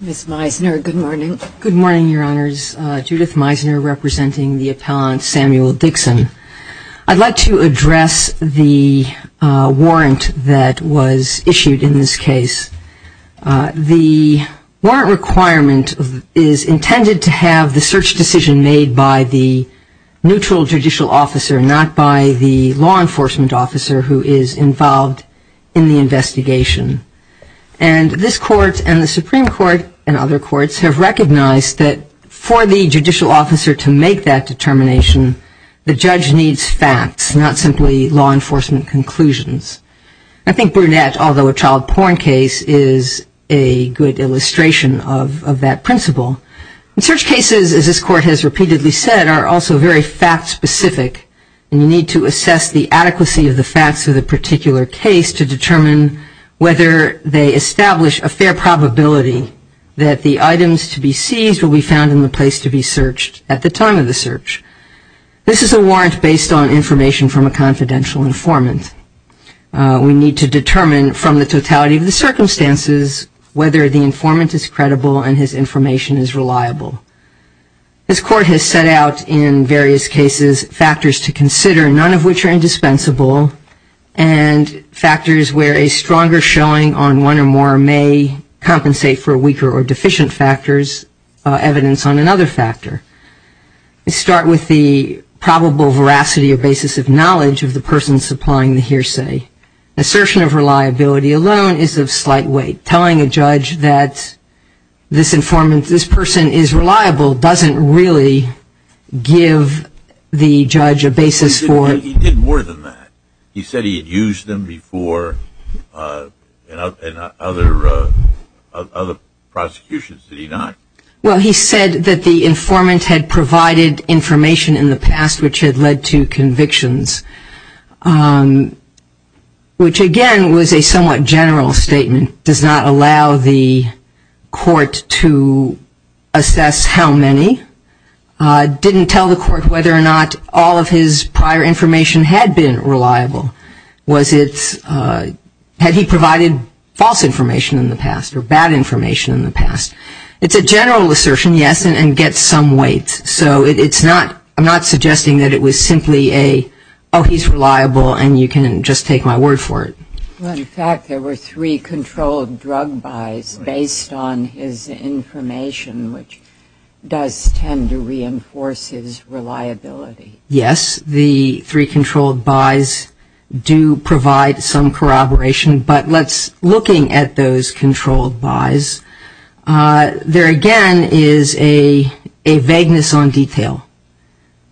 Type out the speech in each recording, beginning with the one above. Ms. Meisner, good morning. Good morning, Your Honors. Judith Meisner, representing the appellant Samuel Dixon. I'd like to address the warrant that was issued in this case. The warrant requirement is intended to have the search decision made by the neutral judicial officer, not by the law enforcement officer who is involved in the investigation. And this court and the Supreme Court and other courts have recognized that for the judicial officer to make that determination, the judge needs facts, not simply law enforcement conclusions. I think Brunette, although a child porn case, is a good illustration of that principle. And search cases, as this court has repeatedly said, are also very fact-specific. And you need to assess the adequacy of the facts of the particular case to determine whether they establish a fair probability that the items to be seized will be found in the place to be searched at the time of the search. This is a warrant based on information from a confidential informant. We need to determine from the totality of the circumstances whether the informant is credible and his information is reliable. This court has set out in various cases factors to consider, none of which are indispensable, and factors where a stronger showing on one or more may compensate for weaker or deficient factors, evidence on another factor. We start with the probable veracity or basis of knowledge of the person supplying the hearsay. Assertion of reliability alone is of slight weight. Telling a judge that this informant, this person is reliable doesn't really give the judge a basis for... He did more than that. He said he had used them before in other prosecutions. Did he not? Well, he said that the informant had provided information in the past which had led to convictions. Which, again, was a somewhat general statement. Does not allow the court to assess how many. Didn't tell the court whether or not all of his prior information had been reliable. Was it... Had he provided false information in the past or bad information in the past? It's a general assertion, yes, and gets some weight. So it's not... I'm not suggesting that it was simply a, oh, he's reliable, and you can just take my word for it. Well, in fact, there were three controlled drug buys based on his information, which does tend to reinforce his reliability. Yes, the three controlled buys do provide some corroboration, but let's... Looking at those controlled buys, there again is a vagueness on detail.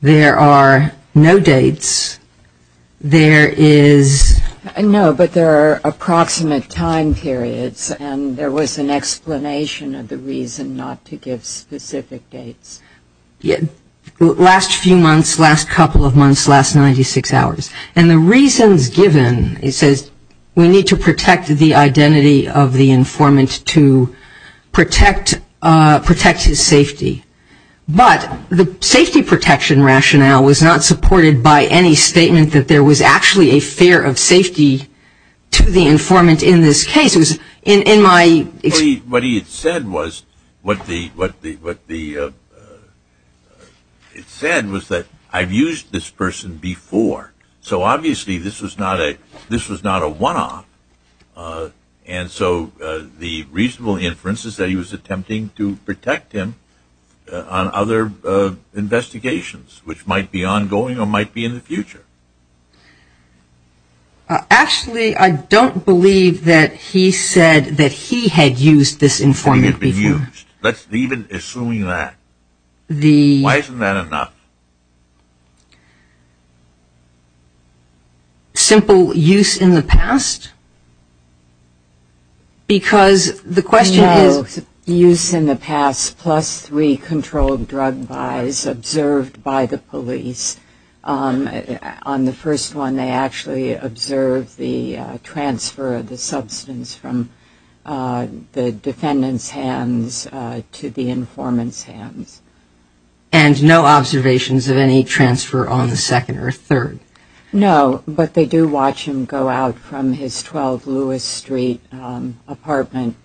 There are... There's a lot of information, but there are no dates. There is... No, but there are approximate time periods, and there was an explanation of the reason not to give specific dates. Last few months, last couple of months, last 96 hours. And the reasons given, he says, we need to protect the identity of the informant to protect his safety. But the safety protection rationale was not supported by any statement that there was actually a fear of safety to the informant in this case. It was in my... What he had said was, what the... It said was that, I've used this person before. So, obviously, this was not a... This was not a one-off. And so, the reasonable inference is that he was attempting to protect him on other investigations, which might be ongoing or might be in the future. Actually, I don't believe that he said that he had used this informant before. Let's leave it assuming that. Why isn't that enough? Simple use in the past? Because the question is... No, use in the past plus three controlled drug buys observed by the police. On the first one, they actually observed the transfer of the substance from the defendant's hands to the informant's hands. And no observations of any transfer on the second or third? No, but they do watch him go out from his 12 Lewis Street apartment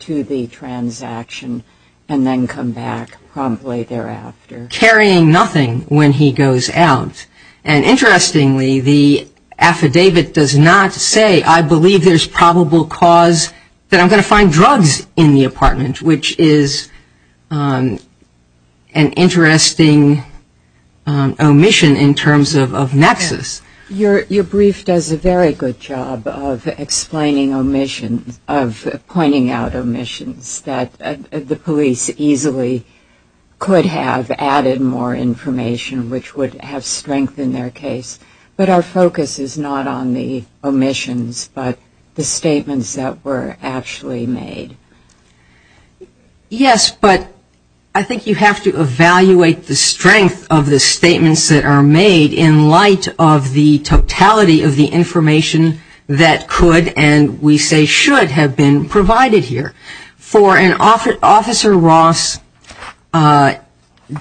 to the transaction and then come back promptly thereafter. Carrying nothing when he goes out. And interestingly, the affidavit does not say, I believe there's probable cause that I'm going to find drugs in the apartment, which is an interesting omission in terms of nexus. Your brief does a very good job of explaining omissions, of pointing out omissions that the police easily could have added more information, which would have strength in their case. But our focus is not on the omissions, but the statements that were actually made. Yes, but I think you have to evaluate the strength of the statements that are made in light of the totality of the information that could and we say should have been provided here. For an officer, Officer Ross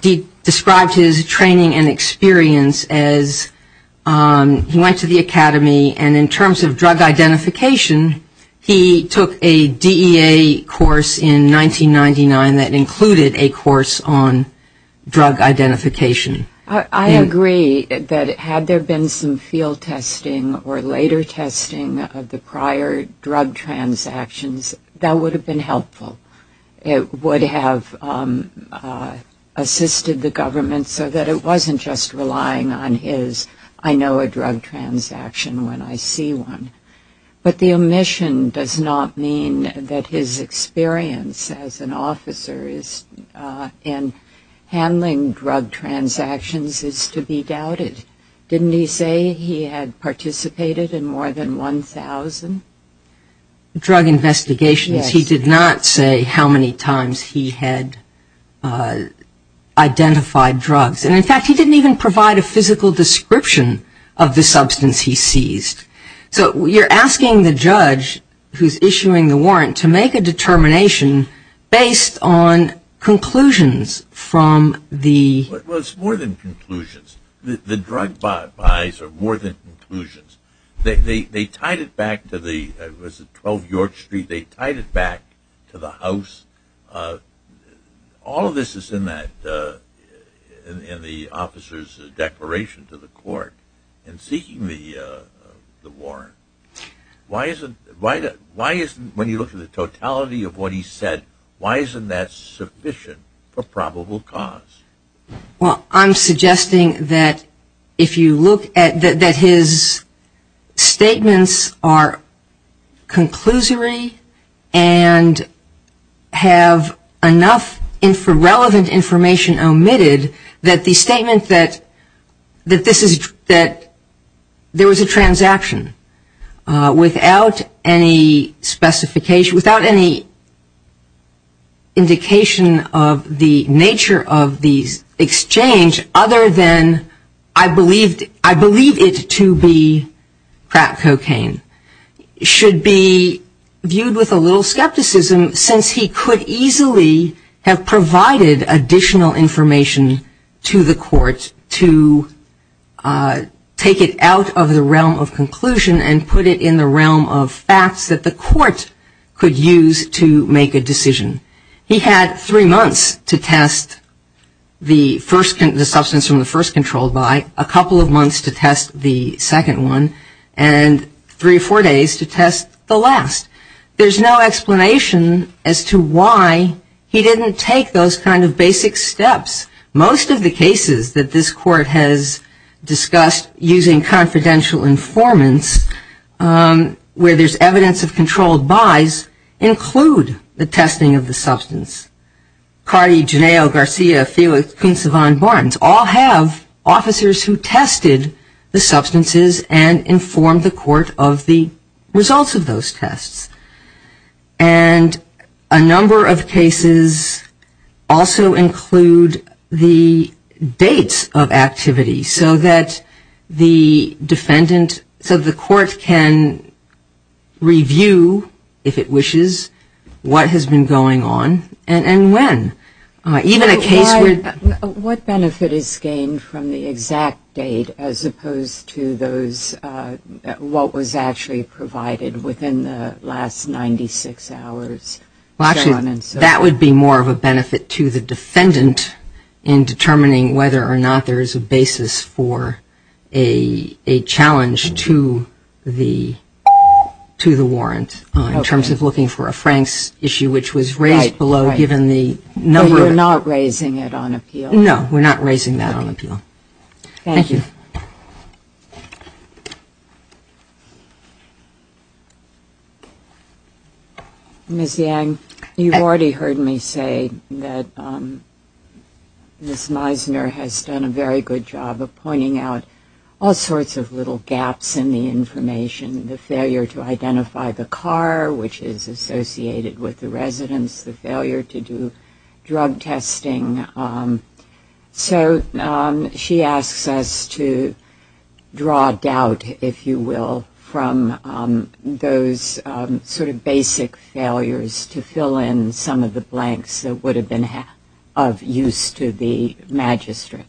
described his training and experience as he went to the academy and in terms of drug identification, he took a DEA course in 1999 that included a course on drug identification. I agree that had there been some field testing or later testing of the prior drug transactions, that would have been helpful. It would have assisted the government so that it wasn't just relying on his, I know a drug transaction when I see one. But the omission does not mean that his experience as an officer in handling drug transactions is to be doubted. Didn't he say he had participated in more than 1,000 drug investigations? He did not say how many times he had identified drugs. In fact, he didn't even provide a physical description of the substance he seized. So you're asking the judge who's issuing the warrant to make a determination based on conclusions from the- Well, it's more than conclusions. The drug buys are more than conclusions. They tied it back to the, it was 12 York Street, they tied it back to the house. All of this is in the officer's declaration to the court in seeking the warrant. Why isn't, when you look at the totality of what he said, why isn't that sufficient for probable cause? Well, I'm suggesting that if you look at, that his statements are conclusory and have enough relevant information omitted that the statement that this is, that there was a transaction without any specification, without any indication of the nature of the exchange other than, I believe it to be crack cocaine should be viewed with a little skepticism since he could easily have provided additional information to the court to take it out of the realm of conclusion and put it in the realm of facts that the court could use to make a decision. He had three months to test the substance from the first controlled buy, a couple of months to test the second one, and three or four days to test the last. There's no explanation as to why he didn't take those kind of basic steps. Most of the cases that this court has discussed using confidential informants where there's evidence of controlled buys include the testing of the substance. Carty, Genao, Garcia, Felix, Kuntz, Savant, Barnes all have officers who tested the substances and informed the court of the results of those tests. And a number of cases also include the dates of activity so that the defendant, so the court can review, if it wishes, what has been going on and when. What benefit is gained from the exact date as opposed to those, what was actually provided within the last 96 hours? That would be more of a benefit to the defendant in determining whether or not there is a basis for a challenge to the warrant in terms of looking for a Frank's issue, which was raised below given the number of... You're not raising it on appeal? No, we're not raising that on appeal. Thank you. Ms. Yang, you've already heard me say that Ms. Meisner has done a very good job of pointing out all sorts of little gaps in the information. The failure to identify the car, which is associated with the residence, the failure to do drug testing. So she asks us to draw doubt, if you will, from those sort of basic failures to fill in some of the blanks that would have been of use to the magistrate.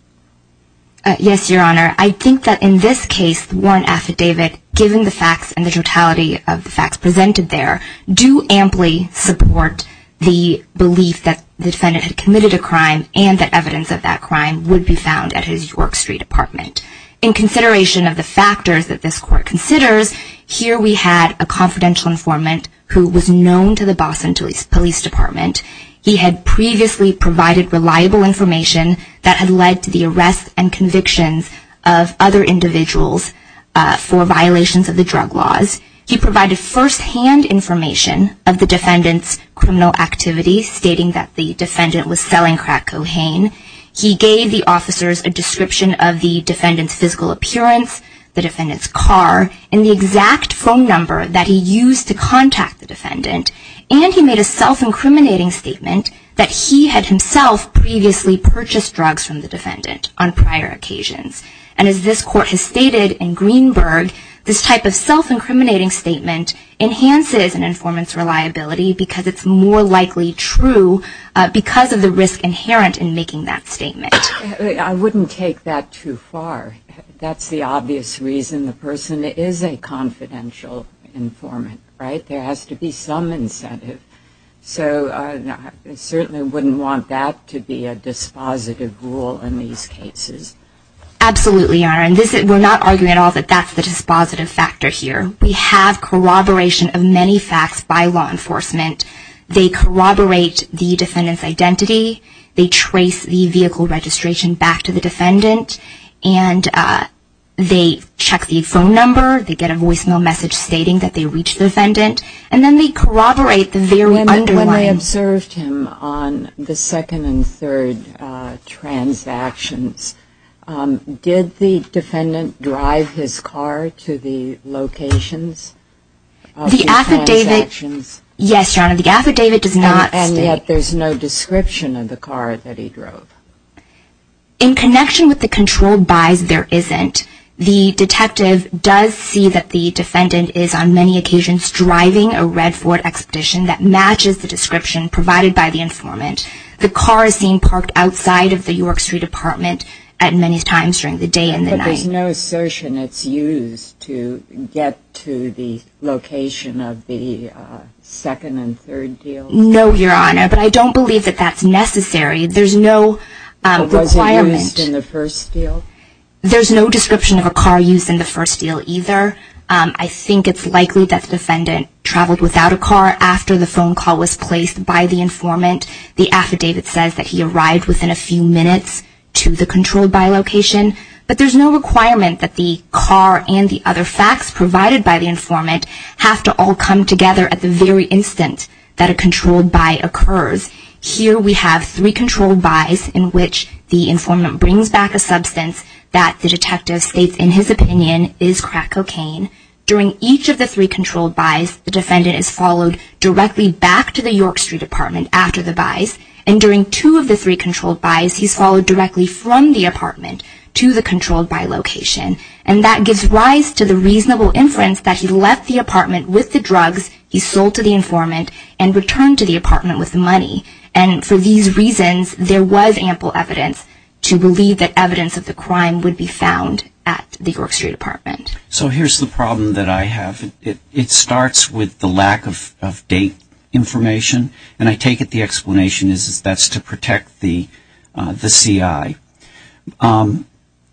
Yes, Your Honor. I think that in this case, the warrant affidavit, given the facts and the totality of the facts presented there, do amply support the belief that the defendant had committed a crime and that evidence of that crime would be found at his York Street apartment. In consideration of the factors that this court considers, here we had a confidential informant who was known to the Boston Police Department. He had previously provided reliable information that had led to the arrests and convictions of other individuals for violations of the drug laws. He provided firsthand information of the defendant's criminal activities, stating that the defendant was selling crack cocaine. He gave the officers a description of the defendant's physical appearance, the defendant's car, and the exact phone number that he used to contact the defendant. And he made a self-incriminating statement that he had himself previously purchased drugs from the defendant on prior occasions. And as this court has stated in Greenberg, this type of self-incriminating statement enhances an informant's reliability because it's more likely true because of the risk inherent in making that statement. I wouldn't take that too far. That's the obvious reason the person is a confidential informant, right? There has to be some incentive. So I certainly wouldn't want that to be a dispositive rule in these cases. Absolutely, Your Honor. We're not arguing at all that that's the dispositive factor here. We have corroboration of many facts by law enforcement. They corroborate the defendant's identity. They trace the vehicle registration back to the defendant. And they check the phone number. They get a voicemail message stating that they reached the defendant. And then they corroborate the very underlying... When they observed him on the second and third transactions, did the defendant drive his car to the locations of the transactions? The affidavit... Yes, Your Honor, the affidavit does not state... And yet there's no description of the car that he drove. In connection with the controlled buys, there isn't. The detective does see that the defendant is on many occasions driving a Red Ford Expedition that matches the description provided by the informant. The car is seen parked outside of the York Street apartment at many times during the day and the night. But there's no assertion it's used to get to the location of the second and third deal? No, Your Honor, but I don't believe that that's necessary. There's no requirement... But was it used in the first deal? There's no description of a car used in the first deal either. I think it's likely that the defendant traveled without a car after the phone call was placed by the informant. The affidavit says that he arrived within a few minutes to the controlled buy location. But there's no requirement that the car and the other facts provided by the informant have to all come together at the very instant that a controlled buy occurs. Here we have three controlled buys in which the informant brings back a substance that the detective states in his opinion is crack cocaine. During each of the three controlled buys, the defendant is followed directly back to the York Street apartment after the buys. And during two of the three controlled buys, he's followed directly from the apartment to the controlled buy location. And that gives rise to the claim that the defendant left the apartment with the drugs he sold to the informant and returned to the apartment with the money. And for these reasons, there was ample evidence to believe that evidence of the crime would be found at the York Street apartment. So here's the problem that I have. It starts with the lack of date information. And I take it the explanation is that's to protect the CI.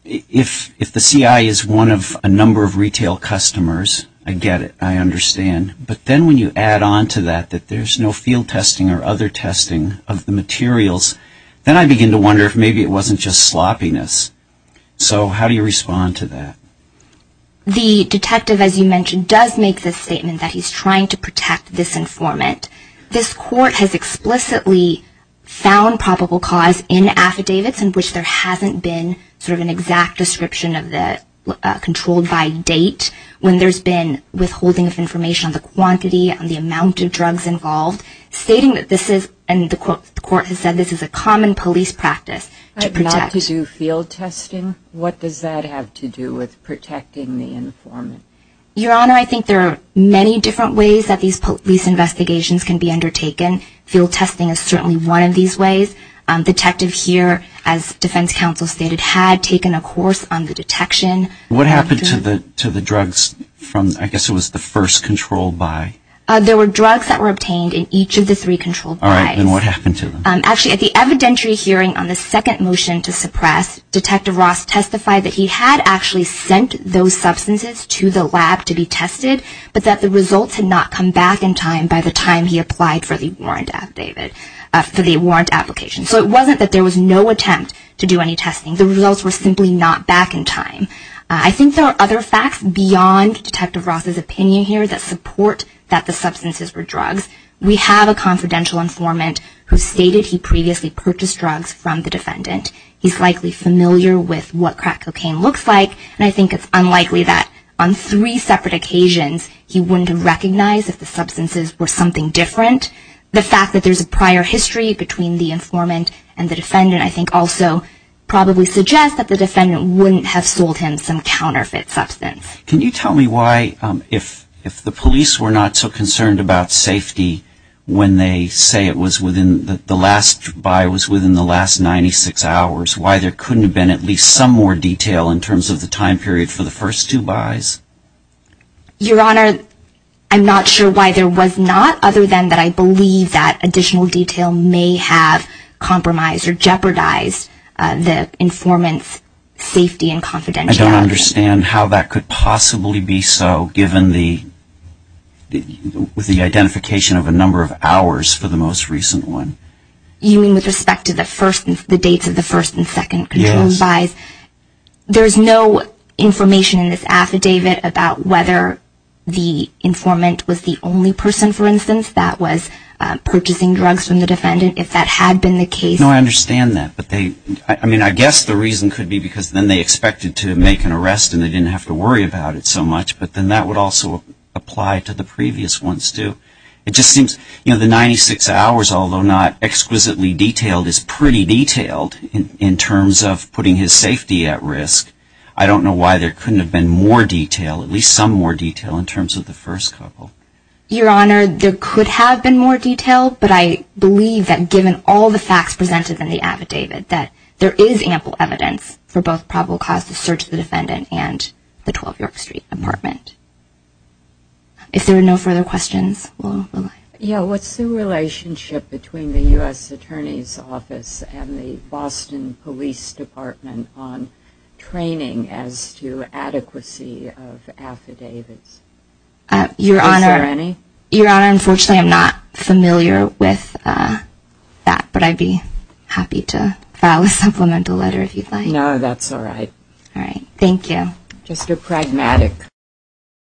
If the CI is one of a number of retail customers, I get it. I understand. But then when you add on to that that there's no field testing or other testing of the materials, then I begin to wonder if maybe it wasn't just sloppiness. So how do you respond to that? The detective, as you mentioned, does make this statement that he's trying to protect this informant. This court has explicitly found probable cause in affidavits in which there hasn't been sort of an exact description of the controlled by date when there's been withholding of information on the quantity and the amount of drugs involved, stating that this is, and the court has said, this is a common police practice to protect. Not to do field testing? What does that have to do with protecting the informant? Your Honor, I think there are many different ways that these police investigations can be undertaken. Field testing is certainly one of these ways. The detective here, as you mentioned, has made a case on the detection. What happened to the drugs from, I guess it was the first controlled by? There were drugs that were obtained in each of the three controlled by's. All right. And what happened to them? Actually, at the evidentiary hearing on the second motion to suppress, Detective Ross testified that he had actually sent those substances to the lab to be tested, but that the results had not come back in time by the time he applied for the warrant, David, for the warrant application. So it wasn't that there was no attempt to do any testing. The results were simply not back in time. I think there are other facts beyond Detective Ross's opinion here that support that the substances were drugs. We have a confidential informant who stated he previously purchased drugs from the defendant. He's likely familiar with what crack cocaine looks like, and I think it's unlikely that on three separate occasions he wouldn't recognize if the fact that there's a prior history between the informant and the defendant I think also probably suggests that the defendant wouldn't have sold him some counterfeit substance. Can you tell me why, if the police were not so concerned about safety when they say it was within, the last by was within the last 96 hours, why there couldn't have been at least some more detail in terms of the time period for the first two by's? Your Honor, I'm not sure why there was not, other than that I believe that additional detail may have compromised or jeopardized the informant's safety and confidentiality. I don't understand how that could possibly be so, given the identification of a number of hours for the most recent one. You mean with respect to the dates of the first and second control by's? Yes. There's no information in this affidavit about whether the informant was the only person, for instance, that was purchasing drugs from the defendant, if that had been the case. No, I understand that, but they I mean, I guess the reason could be because then they expected to make an arrest and they didn't have to worry about it so much, but then that would also apply to the previous ones too. It just seems, you know, the 96 hours, although not exquisitely detailed, is pretty detailed in terms of putting his safety at risk. I don't know why there couldn't have been more detail in terms of the first couple. Your Honor, there could have been more detail, but I believe that given all the facts presented in the affidavit that there is ample evidence for both probable cause of search of the defendant and the 12 York Street apartment. If there are no further questions, we'll move on. Yeah, what's the relationship between the U.S. Attorney's Office and the Boston Police Department on training as to adequacy of affidavits? Is there any? Your Honor, unfortunately I'm not familiar with that, but I'd be happy to file a supplemental letter if you'd like. No, that's alright. Alright, thank you. Just a pragmatic